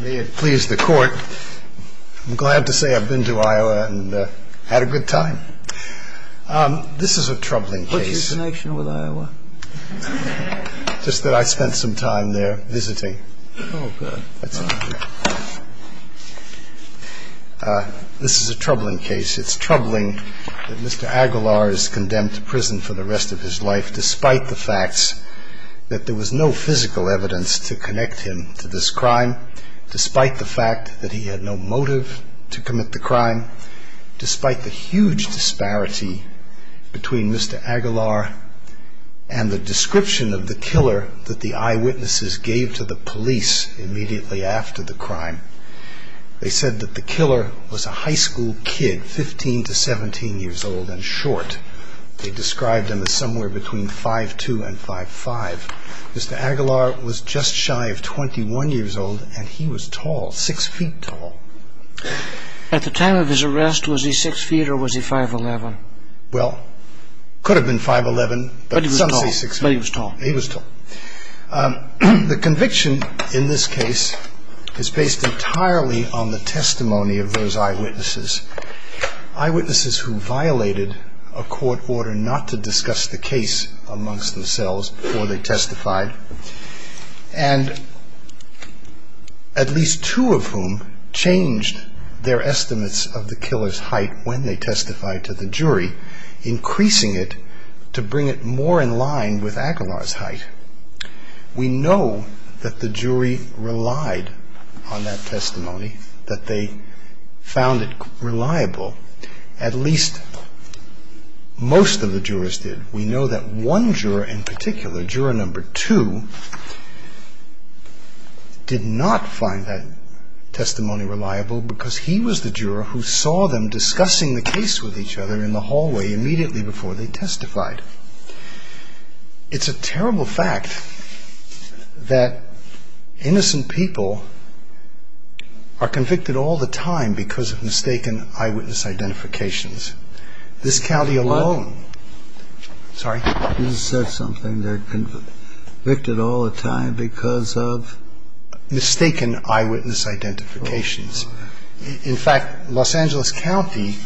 May it please the court. I'm glad to say I've been to Iowa and had a good time. This is a troubling case. What's your connection with Iowa? Just that I spent some time there visiting. Oh, good. That's all. This is a troubling case. It's troubling that Mr. Aguilar is condemned to prison for the rest of his life despite the facts that there was no physical evidence to connect him to this crime, despite the fact that he had no motive to commit the crime, despite the huge disparity between Mr. Aguilar and the description of the killer that the eyewitnesses gave to the police immediately after the crime. They said that the killer was a high school kid, 15 to 17 years old and short. They described him as somewhere between 5'2 and 5'5. Mr. Aguilar was just shy of 21 years old and he was tall, 6 feet tall. At the time of his arrest, was he 6 feet or was he 5'11? Well, could have been 5'11, but some say 6 feet. But he was tall. He was tall. The conviction in this case is based entirely on the testimony of those eyewitnesses, eyewitnesses who violated a court order not to discuss the case amongst themselves before they testified and at least two of whom changed their estimates of the killer's height when they testified to the jury, increasing it to bring it more in line with Aguilar's height. We know that the jury relied on that testimony, that they found it reliable. At least most of the jurors did. We know that one juror in particular, juror number two, did not find that testimony reliable because he was the juror who saw them discussing the case with each other in the hallway immediately before they testified. It's a terrible fact that innocent people are convicted all the time because of mistaken eyewitness identifications. This county alone, sorry? You said something there, convicted all the time because of? Mistaken eyewitness identifications. In fact, Los Angeles County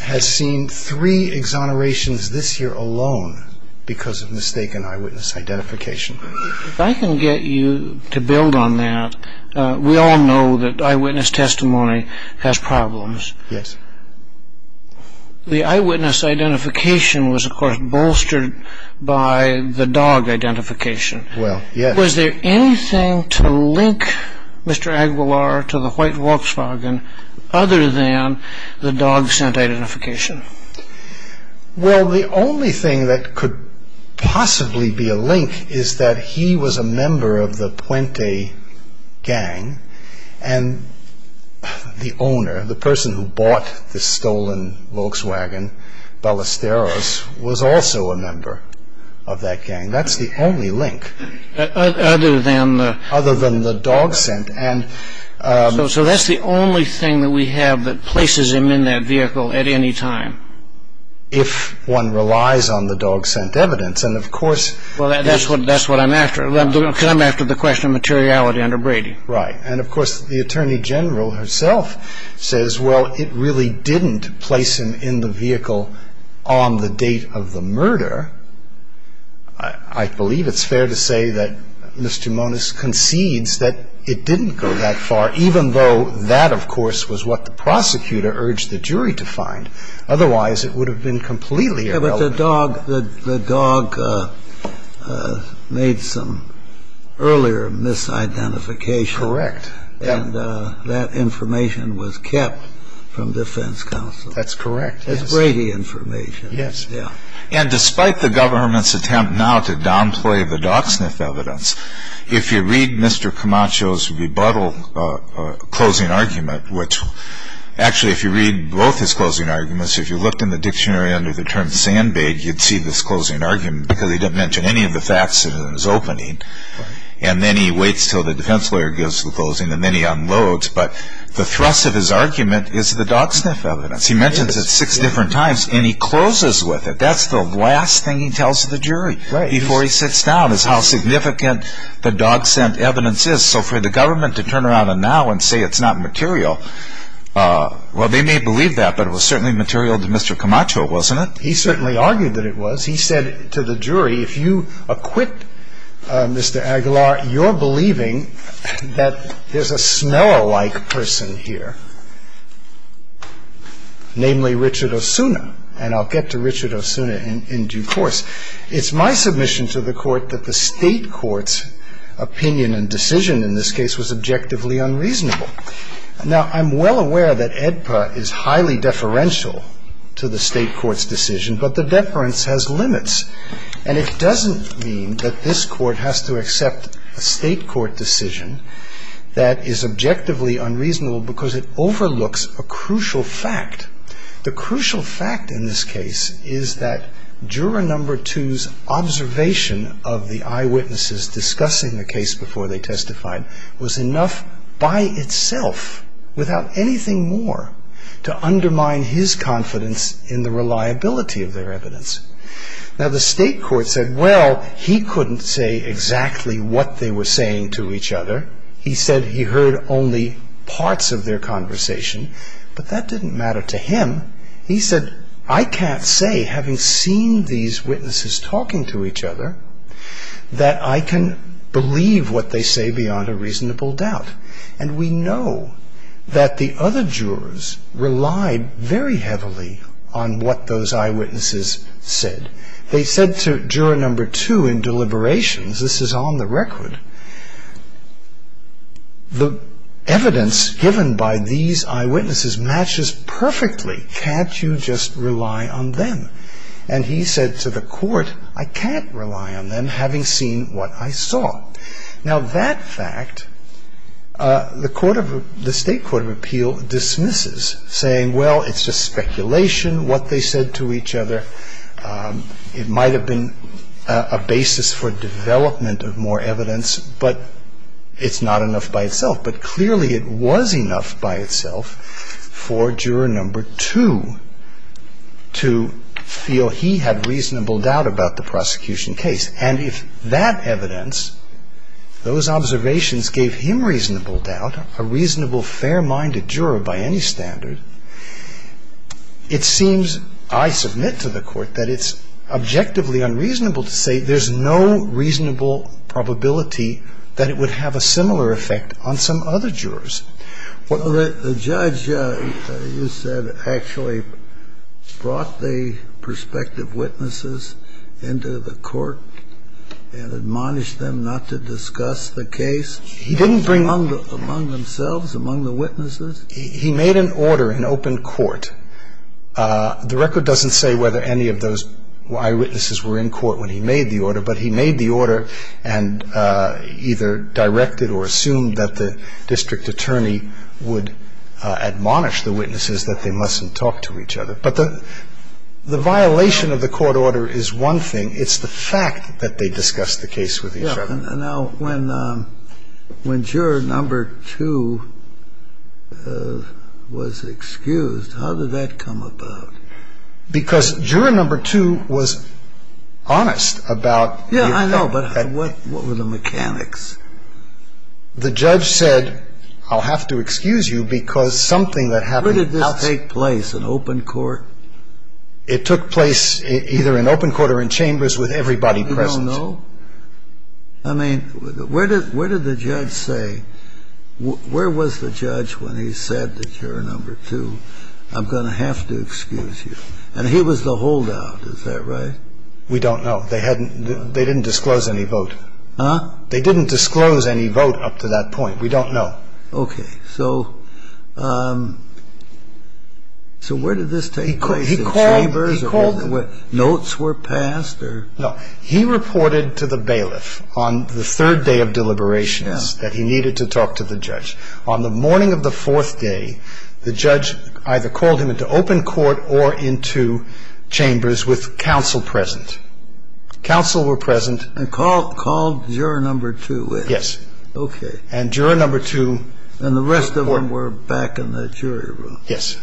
has seen three exonerations this year alone because of mistaken eyewitness identification. If I can get you to build on that, we all know that eyewitness testimony has problems. Yes. The eyewitness identification was, of course, bolstered by the dog identification. Well, yes. Was there anything to link Mr. Aguilar to the white Volkswagen other than the dog scent identification? Well, the only thing that could possibly be a link is that he was a member of the Puente gang, and the owner, the person who bought the stolen Volkswagen, Ballesteros, was also a member of that gang. That's the only link. Other than the? Other than the dog scent. So that's the only thing that we have that places him in that vehicle at any time? If one relies on the dog scent evidence. And, of course, Well, that's what I'm after. I'm after the question of materiality under Brady. Right. And, of course, the Attorney General herself says, well, it really didn't place him in the vehicle on the date of the murder. I believe it's fair to say that Mr. Moniz concedes that it didn't go that far, even though that, of course, was what the prosecutor urged the jury to find. Otherwise, it would have been completely irrelevant. But the dog made some earlier misidentification. Correct. And that information was kept from defense counsel. That's correct. It's Brady information. Yes. And despite the government's attempt now to downplay the dog sniff evidence, if you read Mr. Camacho's rebuttal closing argument, which actually, if you read both his closing arguments, if you looked in the dictionary under the term sandbag, you'd see this closing argument, because he didn't mention any of the facts in his opening. And then he waits until the defense lawyer gives the closing, and then he unloads. But the thrust of his argument is the dog sniff evidence. He mentions it six different times, and he closes with it. That's the last thing he tells the jury before he sits down is how significant the dog scent evidence is. So for the government to turn around now and say it's not material, well, they may believe that, but it was certainly material to Mr. Camacho, wasn't it? He certainly argued that it was. He said to the jury, if you acquit Mr. Aguilar, you're believing that there's a smeller-like person here, namely Richard Osuna. And I'll get to Richard Osuna in due course. It's my submission to the court that the state court's opinion and decision in this case was objectively unreasonable. Now, I'm well aware that AEDPA is highly deferential to the state court's decision, but the deference has limits. And it doesn't mean that this court has to accept a state court decision that is objectively unreasonable because it overlooks a crucial fact. The crucial fact in this case is that juror number two's observation of the eyewitnesses discussing the case before they testified was enough by itself, without anything more, to undermine his confidence in the reliability of their evidence. Now, the state court said, well, he couldn't say exactly what they were saying to each other. He said he heard only parts of their conversation, but that didn't matter to him. He said, I can't say, having seen these witnesses talking to each other, that I can believe what they say beyond a reasonable doubt. And we know that the other jurors relied very heavily on what those eyewitnesses said. They said to juror number two in deliberations, this is on the record, the evidence given by these eyewitnesses matches perfectly. Can't you just rely on them? And he said to the court, I can't rely on them, having seen what I saw. Now, that fact, the state court of appeal dismisses, saying, well, it's just speculation, what they said to each other. It might have been a basis for development of more evidence, but it's not enough by itself. But clearly it was enough by itself for juror number two to feel he had reasonable doubt about the prosecution case. And if that evidence, those observations gave him reasonable doubt, a reasonable, fair-minded juror by any standard, it seems, I submit to the court, that it's objectively unreasonable to say there's no reasonable probability that it would have a similar effect on some other jurors. Well, the judge, you said, actually brought the prospective witnesses into the court and admonished them not to discuss the case among themselves, among the witnesses? He made an order in open court. The record doesn't say whether any of those eyewitnesses were in court when he made the order, but he made the order and either directed or assumed that the district attorney would admonish the witnesses that they mustn't talk to each other. But the violation of the court order is one thing. It's the fact that they discussed the case with each other. Now, when juror number two was excused, how did that come about? Because juror number two was honest about the effect. Yeah, I know, but what were the mechanics? The judge said, I'll have to excuse you because something that happened. Where did this take place, in open court? It took place either in open court or in chambers with everybody present. I don't know. I mean, where did the judge say, where was the judge when he said to juror number two, I'm going to have to excuse you? And he was the holdout. Is that right? We don't know. They didn't disclose any vote. Huh? They didn't disclose any vote up to that point. We don't know. Okay. So where did this take place, in chambers? He called them. Notes were passed? No. He reported to the bailiff on the third day of deliberations that he needed to talk to the judge. On the morning of the fourth day, the judge either called him into open court or into chambers with counsel present. Counsel were present. And called juror number two in. Yes. Okay. And juror number two. And the rest of them were back in that jury room. Yes.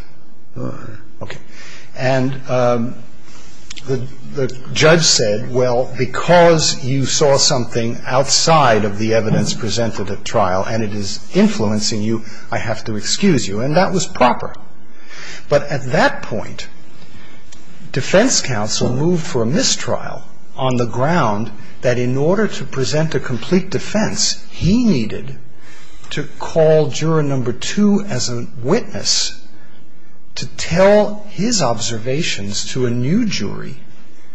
All right. Okay. And the judge said, well, because you saw something outside of the evidence presented at trial and it is influencing you, I have to excuse you. And that was proper. But at that point, defense counsel moved for a mistrial on the ground that in order to present a complete defense, he needed to call juror number two as a witness to tell his observations to a new jury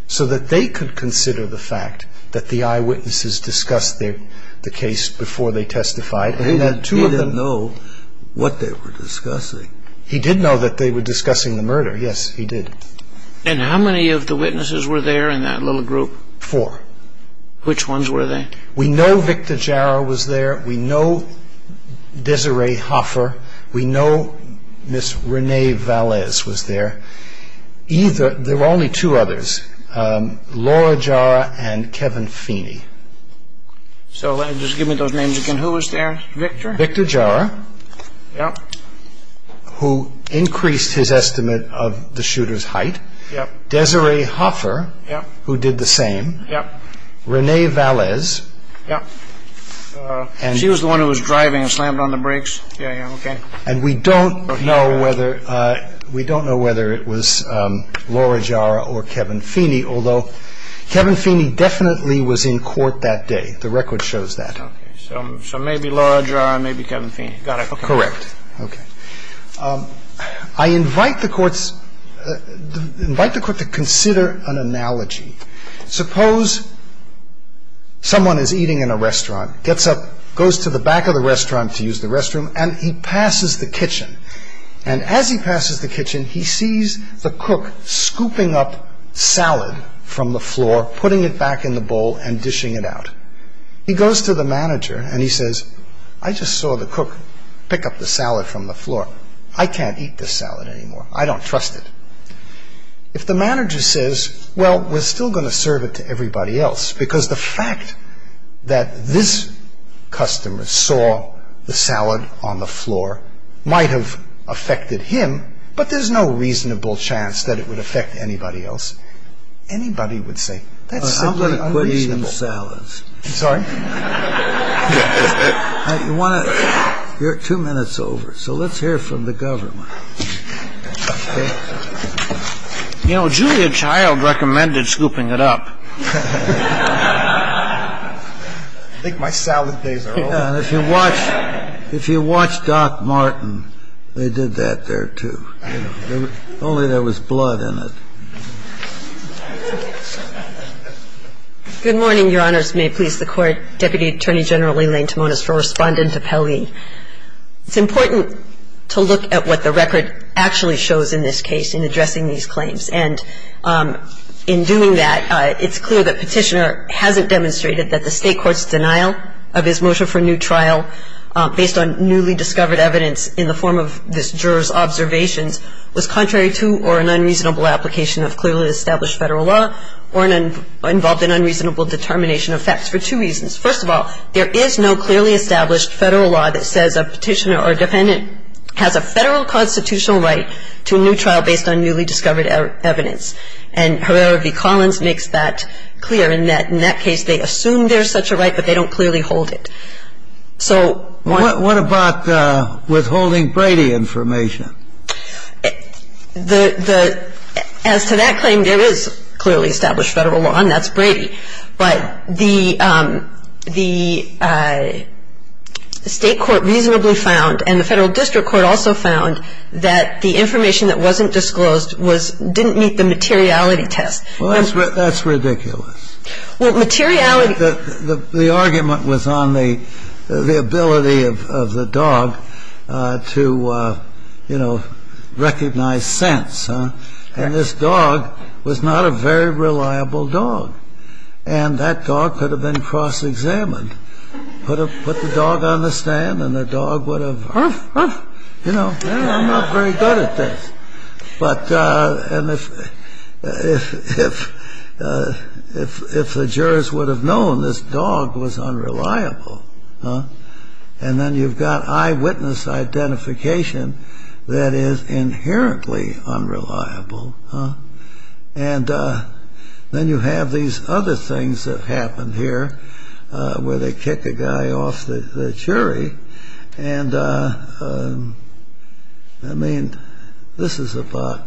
so that they could consider the fact that the eyewitnesses discussed the case before they testified. He didn't know what they were discussing. He did know that they were discussing the murder. Yes, he did. And how many of the witnesses were there in that little group? Four. Which ones were they? We know Victor Jara was there. We know Desiree Hoffer. We know Miss Renee Valez was there. There were only two others, Laura Jara and Kevin Feeney. So just give me those names again. Who was there? Victor? Victor Jara. Yes. Who increased his estimate of the shooter's height. Yes. Desiree Hoffer. Yes. Who did the same. Yes. Who was the one who was driving and slammed on the brakes. Yes. Okay. And we don't know whether it was Laura Jara or Kevin Feeney, although Kevin Feeney definitely was in court that day. The record shows that. So maybe Laura Jara, maybe Kevin Feeney. Correct. Okay. I invite the courts to consider an analogy. Suppose someone is eating in a restaurant, gets up, goes to the back of the restaurant to use the restroom, and he passes the kitchen. And as he passes the kitchen, he sees the cook scooping up salad from the floor, putting it back in the bowl, and dishing it out. He goes to the manager and he says, I just saw the cook pick up the salad from the floor. I can't eat this salad anymore. I don't trust it. If the manager says, well, we're still going to serve it to everybody else, because the fact that this customer saw the salad on the floor might have affected him, but there's no reasonable chance that it would affect anybody else. Anybody would say, that's simply unreasonable. I'm going to quit eating salads. I'm sorry? You're two minutes over, so let's hear from the government. You know, Julia Child recommended scooping it up. I think my salad days are over. If you watch Doc Martin, they did that there, too. Only there was blood in it. Good morning, Your Honors. May it please the Court. Deputy Attorney General Elaine Timonis for Respondent to Pelley. It's important to look at what the record actually shows in this case in addressing these claims. And in doing that, it's clear that Petitioner hasn't demonstrated that the State Court's denial of his motion for a new trial based on newly discovered evidence in the form of this juror's observations was contrary to or an unreasonable application of clearly established Federal law or involved in unreasonable determination of facts for two reasons. First of all, there is no clearly established Federal law that says a Petitioner or a Defendant has a Federal constitutional right to a new trial based on newly discovered evidence. And Herrera v. Collins makes that clear, in that in that case, they assume there's such a right, but they don't clearly hold it. So one of the What about withholding Brady information? As to that claim, there is clearly established Federal law, and that's Brady. But the State Court reasonably found, and the Federal District Court also found, that the information that wasn't disclosed didn't meet the materiality test. Well, that's ridiculous. Well, materiality The argument was on the ability of the dog to, you know, recognize sense. And this dog was not a very reliable dog. And that dog could have been cross-examined. Put the dog on the stand, and the dog would have, you know, I'm not very good at this. But if the jurors would have known this dog was unreliable, And then you've got eyewitness identification that is inherently unreliable. And then you have these other things that happened here, where they kick a guy off the jury. And, I mean, this is about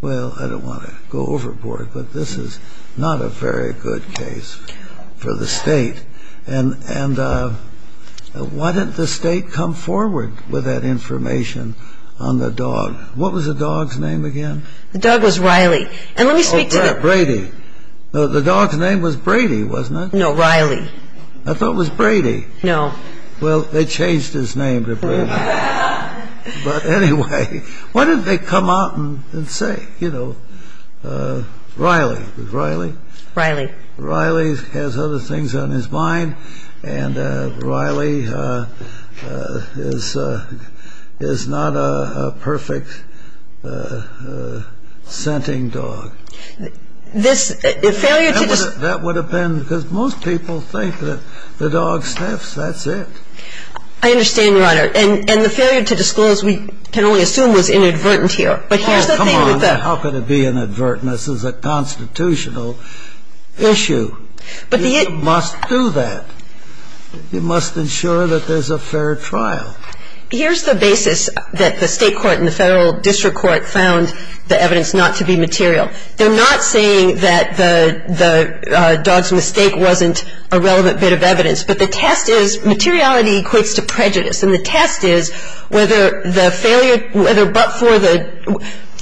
Well, I don't want to go overboard, but this is not a very good case for the State. And why didn't the State come forward with that information on the dog? What was the dog's name again? The dog was Riley. And let me speak to the Brady. The dog's name was Brady, wasn't it? No, Riley. I thought it was Brady. No. Well, they changed his name to Brady. But anyway, why didn't they come out and say, you know, Riley. Was it Riley? Riley. Riley has other things on his mind. And Riley is not a perfect scenting dog. This failure to That would have been, because most people think that the dog sniffs, that's it. I understand, Your Honor. And the failure to disclose, we can only assume, was inadvertent here. But here's the thing with the How can it be inadvertent? This is a constitutional issue. You must do that. You must ensure that there's a fair trial. Here's the basis that the State Court and the Federal District Court found the evidence not to be material. They're not saying that the dog's mistake wasn't a relevant bit of evidence. But the test is, materiality equates to prejudice. And the test is whether the failure, whether but for the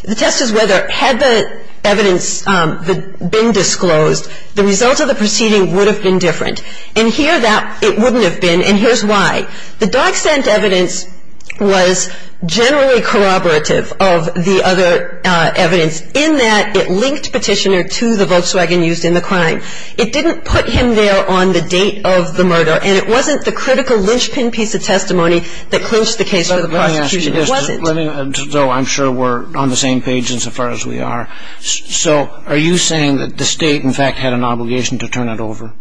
The test is whether, had the evidence been disclosed, the result of the proceeding would have been different. And here, it wouldn't have been. And here's why. The dog scent evidence was generally corroborative of the other evidence in that it linked Petitioner to the Volkswagen used in the crime. It didn't put him there on the date of the murder. And it wasn't the critical linchpin piece of testimony that clinched the case for the prosecution. It wasn't. Let me ask you this, though I'm sure we're on the same page insofar as we are. So are you saying that the State, in fact, had an obligation to turn it over?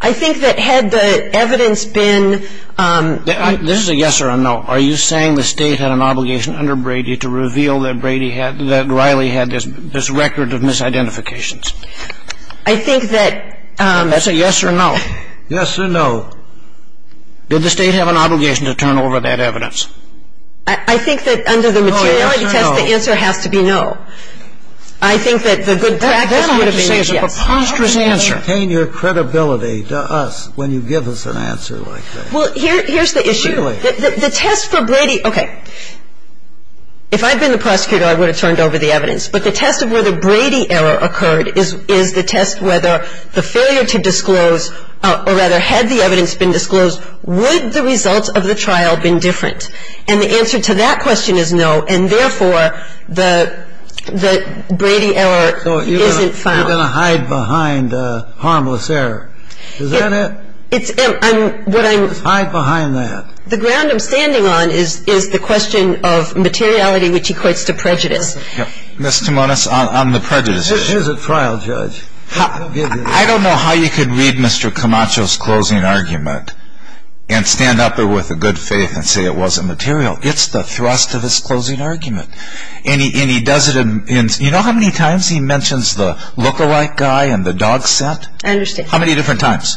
I think that had the evidence been This is a yes or a no. Are you saying the State had an obligation under Brady to reveal that Brady had that Riley had this record of misidentifications? I think that That's a yes or no. Yes or no. Did the State have an obligation to turn over that evidence? I think that under the materiality test, the answer has to be no. I think that the good practice would have been yes. That I have to say is a preposterous answer. How can you maintain your credibility to us when you give us an answer like that? Well, here's the issue. Really? The test for Brady Okay. If I had been the prosecutor, I would have turned over the evidence. But the test of whether Brady error occurred is the test whether the failure to disclose or rather had the evidence been disclosed, would the results of the trial been different? And the answer to that question is no. And therefore, the Brady error isn't found. So you're going to hide behind harmless error. Is that it? It's what I'm Hide behind that. The ground I'm standing on is the question of materiality which equates to prejudice. Ms. Timonis, on the prejudice issue. This is a trial, Judge. I don't know how you could read Mr. Camacho's closing argument and stand up there with a good faith and say it wasn't material. It's the thrust of his closing argument. And he does it in you know how many times he mentions the look-alike guy and the dog scent? I understand. How many different times?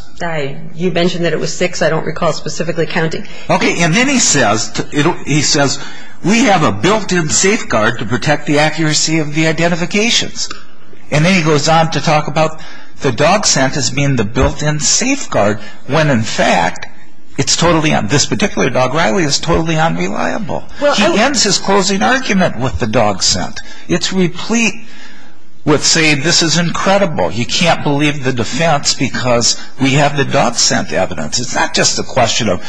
You mentioned that it was six. I don't recall specifically counting. Okay. And then he says we have a built-in safeguard to protect the accuracy of the identifications. And then he goes on to talk about the dog scent as being the built-in safeguard when in fact it's totally, this particular dog, Riley, is totally unreliable. He ends his closing argument with the dog scent. It's replete with saying this is incredible. You can't believe the defense because we have the dog scent evidence. It's not just a question of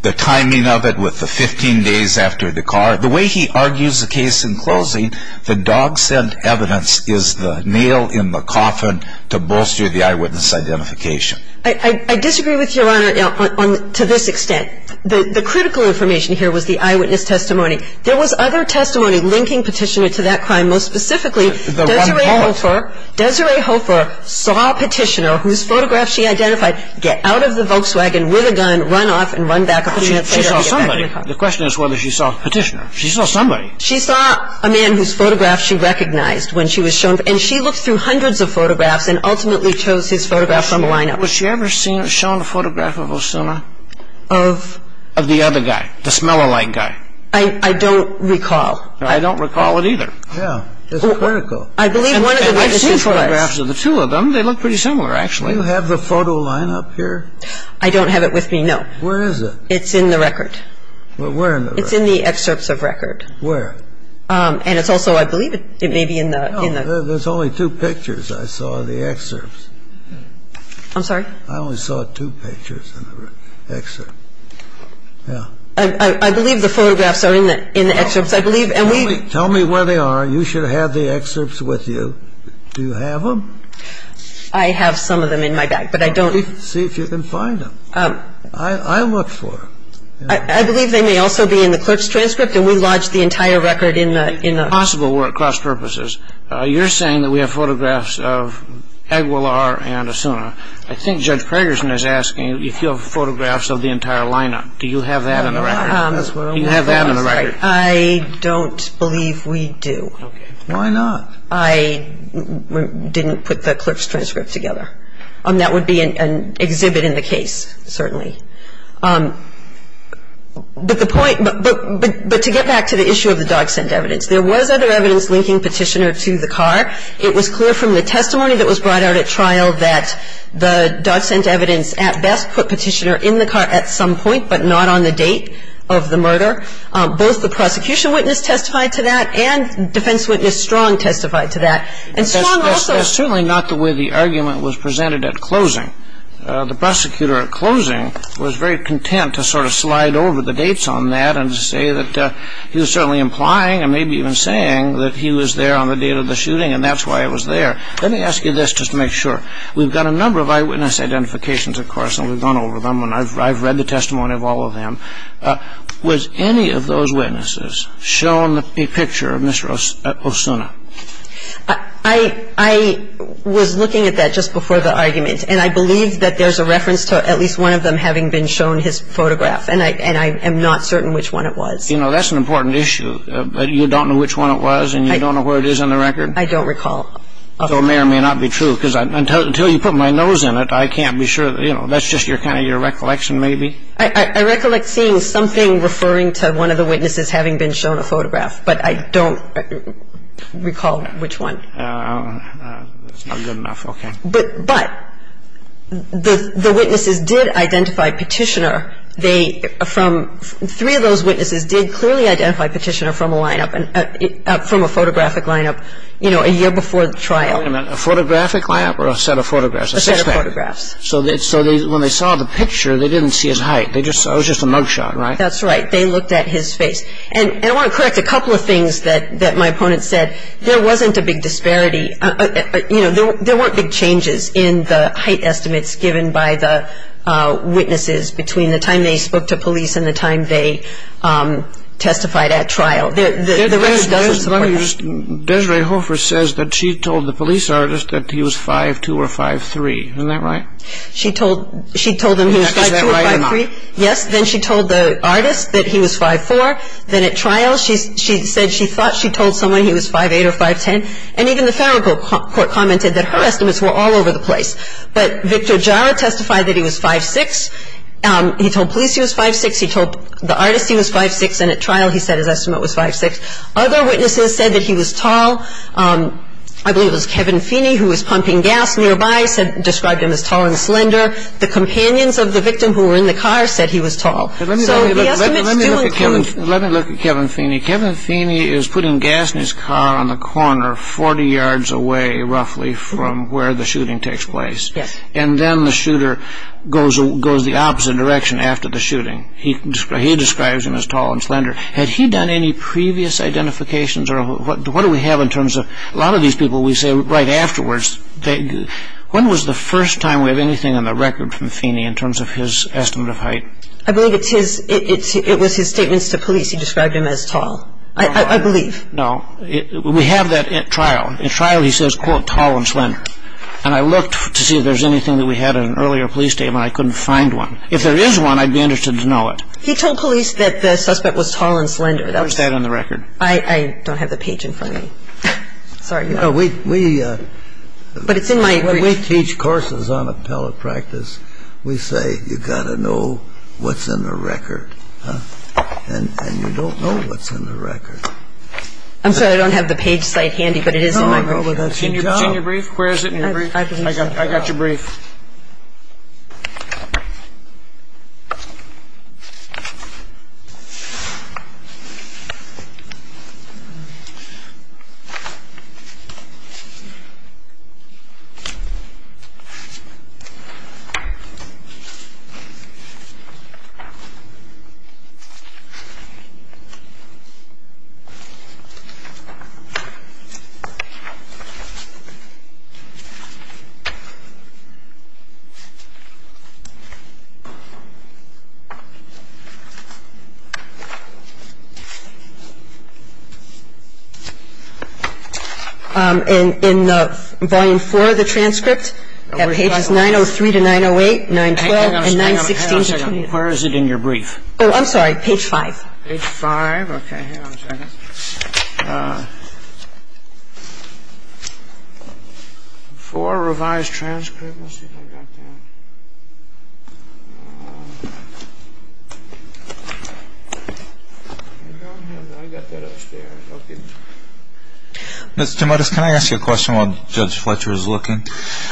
the timing of it with the 15 days after the car. The way he argues the case in closing, the dog scent evidence is the nail in the coffin to bolster the eyewitness identification. I disagree with Your Honor to this extent. The critical information here was the eyewitness testimony. There was other testimony linking Petitioner to that crime. And most specifically, Desiree Hofer saw Petitioner, whose photograph she identified, get out of the Volkswagen with a gun, run off, and run back a few minutes later to get back in the car. She saw somebody. The question is whether she saw Petitioner. She saw somebody. She saw a man whose photograph she recognized when she was shown, and she looked through hundreds of photographs and ultimately chose his photograph from the lineup. Was she ever shown a photograph of Osuna? Of? Of the other guy, the smell-a-like guy. I don't recall. I don't recall it either. Yeah, it's critical. I believe one of the registered photographs. I've seen photographs of the two of them. They look pretty similar, actually. Do you have the photo lineup here? I don't have it with me, no. Where is it? It's in the record. Well, where in the record? It's in the excerpts of record. Where? And it's also, I believe, it may be in the – No, there's only two pictures I saw of the excerpts. I'm sorry? I only saw two pictures in the excerpt. Yeah. I believe the photographs are in the excerpts. Tell me where they are. You should have the excerpts with you. Do you have them? I have some of them in my bag, but I don't – See if you can find them. I'll look for them. I believe they may also be in the clerk's transcript, and we lodged the entire record in the – It's possible we're at cross-purposes. You're saying that we have photographs of Aguilar and Osuna. I think Judge Pragerson is asking if you have photographs of the entire lineup. Do you have that in the record? I don't believe we do. Okay. Why not? I didn't put the clerk's transcript together. That would be an exhibit in the case, certainly. But the point – but to get back to the issue of the dog scent evidence, there was other evidence linking Petitioner to the car. It was clear from the testimony that was brought out at trial that the dog scent evidence at best put Petitioner in the car at some point, but not on the date. No. What would you do if Petitioner was near the scene the next day of the murder? Both the prosecution witness testified to that and the defense witness, Strong, testified to that. And Strong also – That's certainly not the way the argument was presented at closing. The prosecutor at closing was very content to sort of slide over the dates on that and say that he was certainly implying, and maybe even saying that he was there on the date of the shooting and that's why it was there. Let me ask you this just to make sure. We've got a number of eyewitness identifications, of course, and we've gone over them and I've read the testimony of all of them. Was any of those witnesses shown a picture of Mr. Osuna? I was looking at that just before the argument, and I believe that there's a reference to at least one of them having been shown his photograph, and I am not certain which one it was. You know, that's an important issue. You don't know which one it was and you don't know where it is on the record? I don't recall. So it may or may not be true. Because until you put my nose in it, I can't be sure. You know, that's just kind of your recollection maybe? I recollect seeing something referring to one of the witnesses having been shown a photograph, but I don't recall which one. That's not good enough. Okay. But the witnesses did identify Petitioner. They – from – three of those witnesses did clearly identify Petitioner from a lineup, from a photographic lineup, you know, a year before the trial. Wait a minute. A photographic lineup or a set of photographs? A set of photographs. So when they saw the picture, they didn't see his height. It was just a mug shot, right? That's right. They looked at his face. And I want to correct a couple of things that my opponent said. There wasn't a big disparity. You know, there weren't big changes in the height estimates given by the witnesses between the time they spoke to police and the time they testified at trial. So the judge's assessment was that Petitioner was 5'4". He was 5'4". You know, the record doesn't support that. Let me just – Desiree Hofer says that she told the police artist that he was 5'2 or 5'3. Isn't that right? She told – she told him he was 5'2 or 5'3. Is that right or not? Yes. Then she told the artist that he was 5'4". Then at trial she said she thought she told someone he was 5'8 or 5'10, and even the federal court commented that her estimates were all over the place. But Victor Jara testified that he was 5'6". He told police he was 5'6". He told the artist he was 5'6". And at trial he said his estimate was 5'6". Other witnesses said that he was tall. I believe it was Kevin Feeney who was pumping gas nearby described him as tall and slender. The companions of the victim who were in the car said he was tall. So the estimates do include – Let me look at Kevin Feeney. Kevin Feeney is putting gas in his car on the corner 40 yards away roughly from where the shooting takes place. Yes. And then the shooter goes the opposite direction after the shooting. He describes him as tall and slender. Had he done any previous identifications or what do we have in terms of – a lot of these people we say right afterwards. When was the first time we have anything on the record from Feeney in terms of his estimate of height? I believe it's his – it was his statements to police. He described him as tall. I believe. No. We have that at trial. At trial he says, quote, tall and slender. And I looked to see if there's anything that we had in an earlier police statement. I couldn't find one. If there is one, I'd be interested to know it. He told police that the suspect was tall and slender. Where's that in the record? I don't have the page in front of me. Sorry. We – But it's in my brief. When we teach courses on appellate practice, we say you've got to know what's in the record. And you don't know what's in the record. I'm sorry. I don't have the page site handy, but it is in my brief. No, but that's your job. It's in your brief? Where is it in your brief? I got your brief. Thank you. Thank you. Thank you. Page 5. In the… in Volume 4 of the transcript, it has pages 903 to 908, 912, and 916 to 22. Where is it in your brief? Oh, I'm sorry. Page 5. Page 5. Okay. Hang on a second. 4, Revised Transcript. Let's see if I've got that. I don't have that. I've got that upstairs. Okay. Ms. Timotez, can I ask you a question while Judge Fletcher is looking?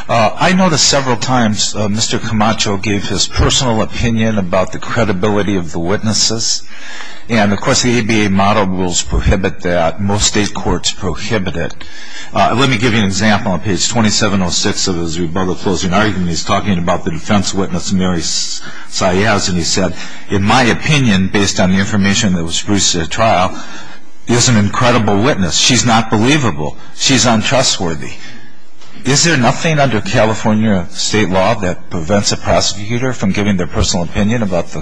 I noticed several times Mr. Camacho gave his personal opinion about the credibility of the witnesses. And, of course, the ABA model rules prohibit that. Most state courts prohibit it. Let me give you an example on page 2706 of his rebuttal closing argument. He's talking about the defense witness, Mary Saez, and he said, in my opinion, based on the information that was produced at the trial, she's an incredible witness. She's not believable. She's untrustworthy. Is there nothing under California state law that prevents a prosecutor from giving their personal opinion about the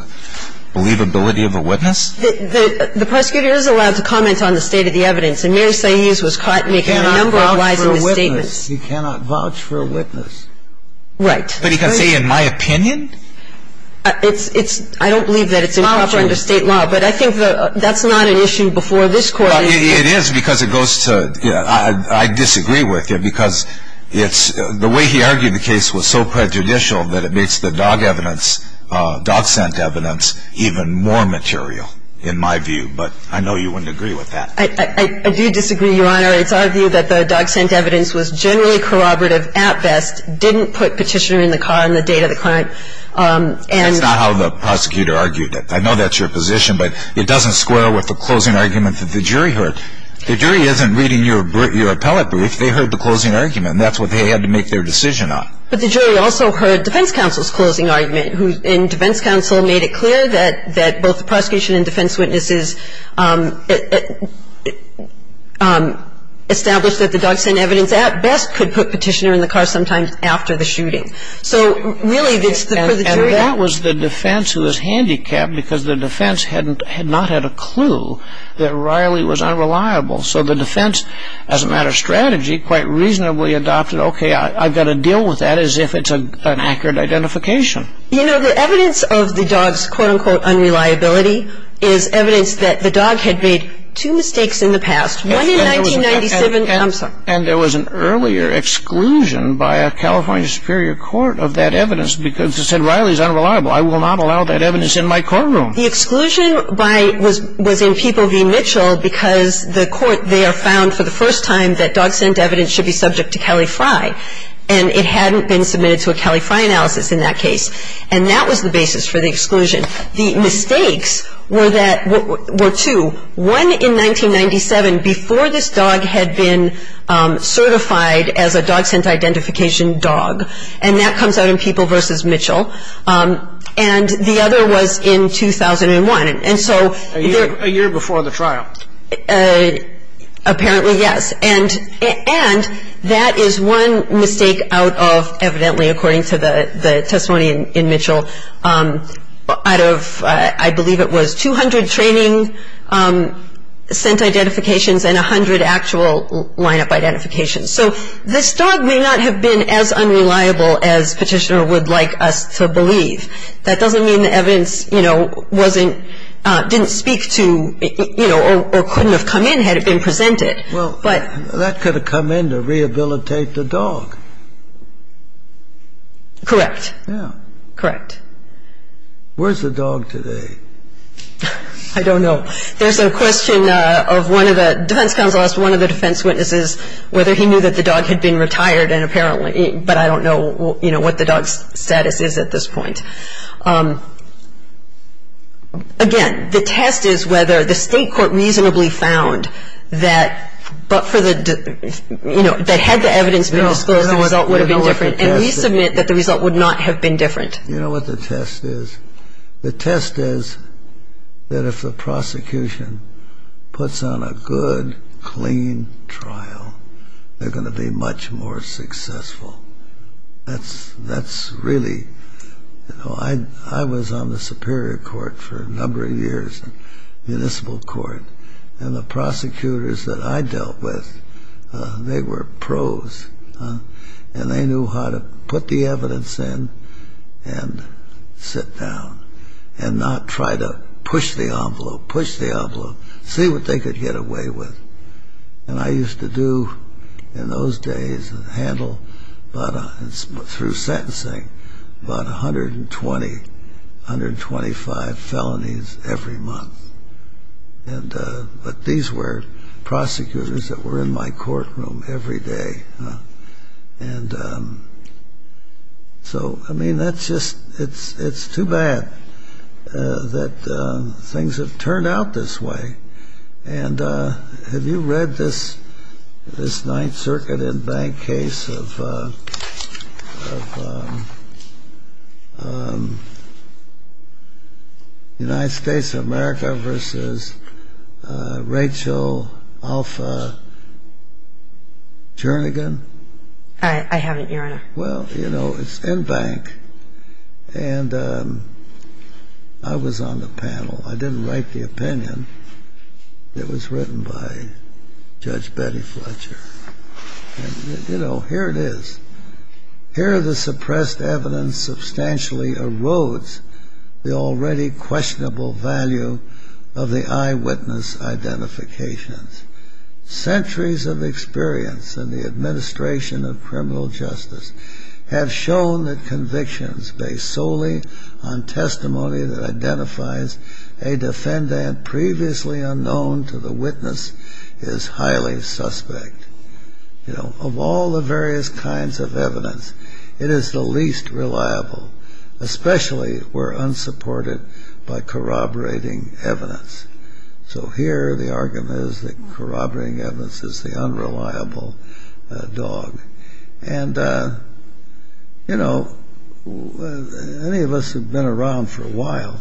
believability of a witness? The prosecutor is allowed to comment on the state of the evidence, and Mary Saez was caught making a number of lies in his statements. You cannot vouch for a witness. Right. But he can say, in my opinion? I don't believe that it's improper under state law, but I think that's not an issue before this Court. Well, it is, because it goes to, you know, I disagree with you, because it's, the way he argued the case was so prejudicial that it makes the dog evidence, dog scent evidence, even more material, in my view. But I know you wouldn't agree with that. I do disagree, Your Honor. It's our view that the dog scent evidence was generally corroborative at best, didn't put Petitioner in the car on the date of the crime, and That's not how the prosecutor argued it. I know that's your position, but it doesn't square with the closing argument that the jury heard. The jury isn't reading your appellate brief. They heard the closing argument. That's what they had to make their decision on. But the jury also heard defense counsel's closing argument, and defense counsel made it clear that both the prosecution and defense witnesses established that the dog scent evidence at best could put Petitioner in the car sometimes after the shooting. So really, it's the jury And that was the defense who was handicapped because the defense had not had a clue that Riley was unreliable. So the defense, as a matter of strategy, quite reasonably adopted, okay, I've got to deal with that as if it's an accurate identification. You know, the evidence of the dog's, quote-unquote, unreliability is evidence that the dog had made two mistakes in the past, one in 1997 And there was an earlier exclusion by a California Superior Court of that evidence because it said Riley's unreliable. I will not allow that evidence in my courtroom. The exclusion was in People v. Mitchell because the court there found for the first time that dog scent evidence should be subject to Califri. And it hadn't been submitted to a Califri analysis in that case. And that was the basis for the exclusion. The mistakes were two, one in 1997 before this dog had been certified as a dog scent identification dog. And that comes out in People v. Mitchell. And the other was in 2001. And so A year before the trial. Apparently, yes. And that is one mistake out of, evidently, according to the testimony in Mitchell, out of, I believe it was 200 training scent identifications and 100 actual lineup identifications. So this dog may not have been as unreliable as Petitioner would like us to believe. That doesn't mean the evidence, you know, wasn't, didn't speak to, you know, or couldn't have come in had it been presented. Well, that could have come in to rehabilitate the dog. Correct. Yeah. Correct. Where's the dog today? I don't know. There's a question of one of the defense counsel, one of the defense witnesses, whether he knew that the dog had been retired and apparently, but I don't know, you know, what the dog's status is at this point. Again, the test is whether the state court reasonably found that, but for the, you know, that had the evidence been disclosed, the result would have been different. And we submit that the result would not have been different. You know what the test is? The test is that if the prosecution puts on a good, clean trial, they're going to be much more successful. That's really, you know, I was on the Superior Court for a number of years, Municipal Court, and the prosecutors that I dealt with, they were pros. And they knew how to put the evidence in and sit down and not try to push the envelope, push the envelope, see what they could get away with. And I used to do in those days and handle, through sentencing, about 120, 125 felonies every month. And, but these were prosecutors that were in my courtroom every day. And so, I mean, that's just, it's too bad that things have turned out this way. And have you read this Ninth Circuit in-bank case of United States of America versus Rachel Alpha Jernigan? I haven't, Your Honor. Well, you know, it's in-bank, and I was on the panel. I didn't write the opinion. It was written by Judge Betty Fletcher. You know, here it is. Here, the suppressed evidence substantially erodes the already questionable value of the eyewitness identifications. Centuries of experience in the administration of criminal justice have shown that convictions based solely on testimony that identifies a defendant previously unknown to the witness is highly suspect. You know, of all the various kinds of evidence, it is the least reliable, especially where unsupported by corroborating evidence. So here, the argument is that corroborating evidence is the unreliable dog. And, you know, any of us who've been around for a while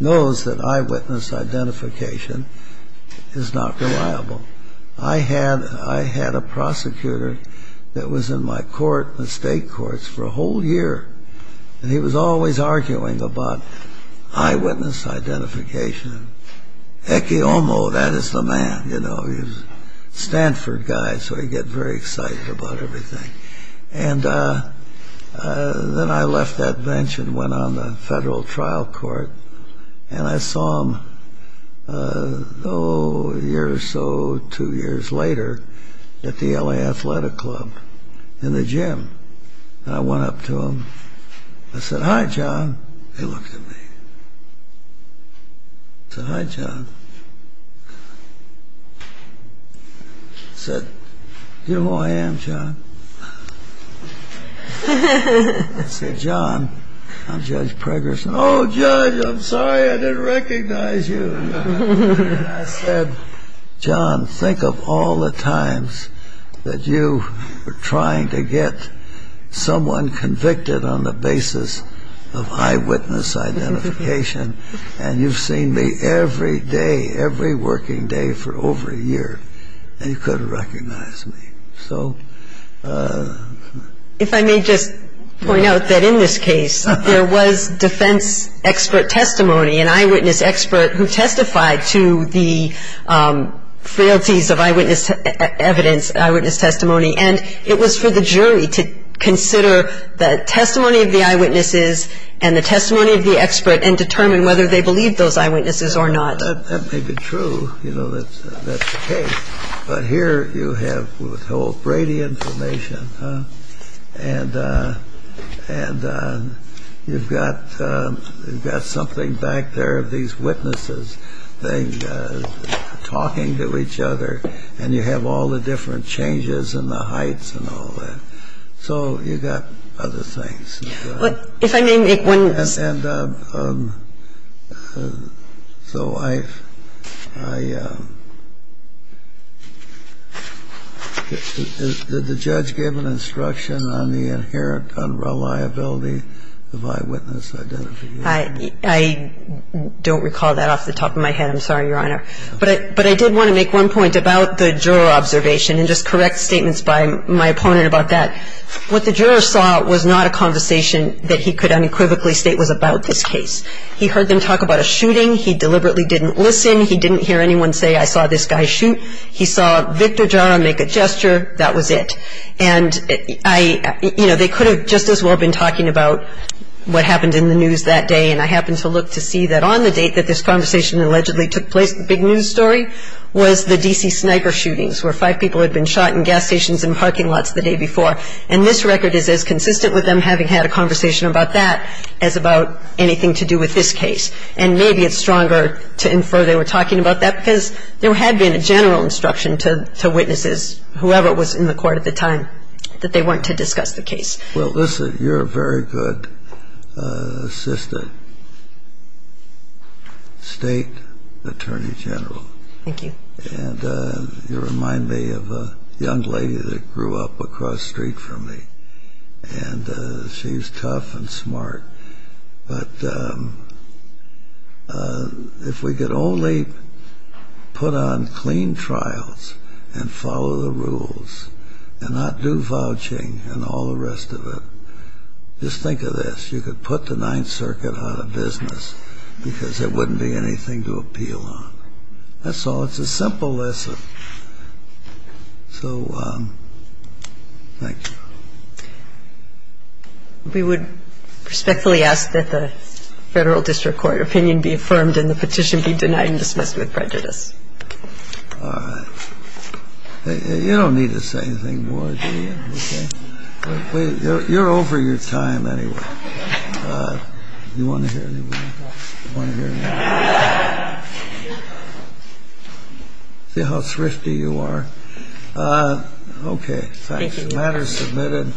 knows that eyewitness identification is not reliable. I had a prosecutor that was in my court, the state courts, for a whole year. And he was always arguing about eyewitness identification. Eki Omo, that is the man, you know, he was a Stanford guy, so he'd get very excited about everything. And then I left that bench and went on the federal trial court. And I saw him, oh, a year or so, two years later, at the LA Athletic Club in the gym. And I went up to him, I said, hi, John. I said, do you know who I am, John? I said, John, I'm Judge Preggerson. Oh, Judge, I'm sorry I didn't recognize you. And I said, John, think of all the times that you were trying to get someone convicted on the basis of eyewitness identification. And you've seen me every day, every working day for over a year. And you couldn't recognize me. So. If I may just point out that in this case, there was defense expert testimony, an eyewitness expert who testified to the frailties of eyewitness evidence, eyewitness testimony. And it was for the jury to consider the testimony of the eyewitnesses and the testimony of the expert, and determine whether they believed those eyewitnesses or not. That may be true, you know, that's the case. But here, you have withhold Brady information. And you've got something back there, these witnesses talking to each other. And you have all the different changes in the heights and all that. So you've got other things. And so I've, I, did the judge give an instruction on the inherent unreliability of eyewitness identification? I don't recall that off the top of my head, I'm sorry, Your Honor. But I did want to make one point about the juror observation, and just correct statements by my opponent about that. What the juror saw was not a conversation that he could unequivocally state was about this case. He heard them talk about a shooting. He deliberately didn't listen. He didn't hear anyone say, I saw this guy shoot. He saw Victor Jara make a gesture. That was it. And I, you know, they could have just as well been talking about what happened in the news that day. And I happened to look to see that on the date that this conversation allegedly took place, the big news story, was the D.C. And this record is as consistent with them having had a conversation about that as about anything to do with this case. And maybe it's stronger to infer they were talking about that because there had been a general instruction to witnesses, whoever was in the court at the time, that they weren't to discuss the case. Well, listen, you're a very good assistant state attorney general. Thank you. And you remind me of a young lady that grew up across the street from me. And she's tough and smart. But if we could only put on clean trials and follow the rules and not do vouching and all the rest of it, just think of this. You could put the Ninth Circuit out of business because there wouldn't be anything to appeal on. That's all. It's a simple lesson. So, thank you. We would respectfully ask that the federal district court opinion be affirmed and the petition be denied and dismissed with prejudice. You don't need to say anything more. You're over your time anyway. You want to hear any more? You want to hear any more? See how thrifty you are. OK, thanks. The matter is submitted.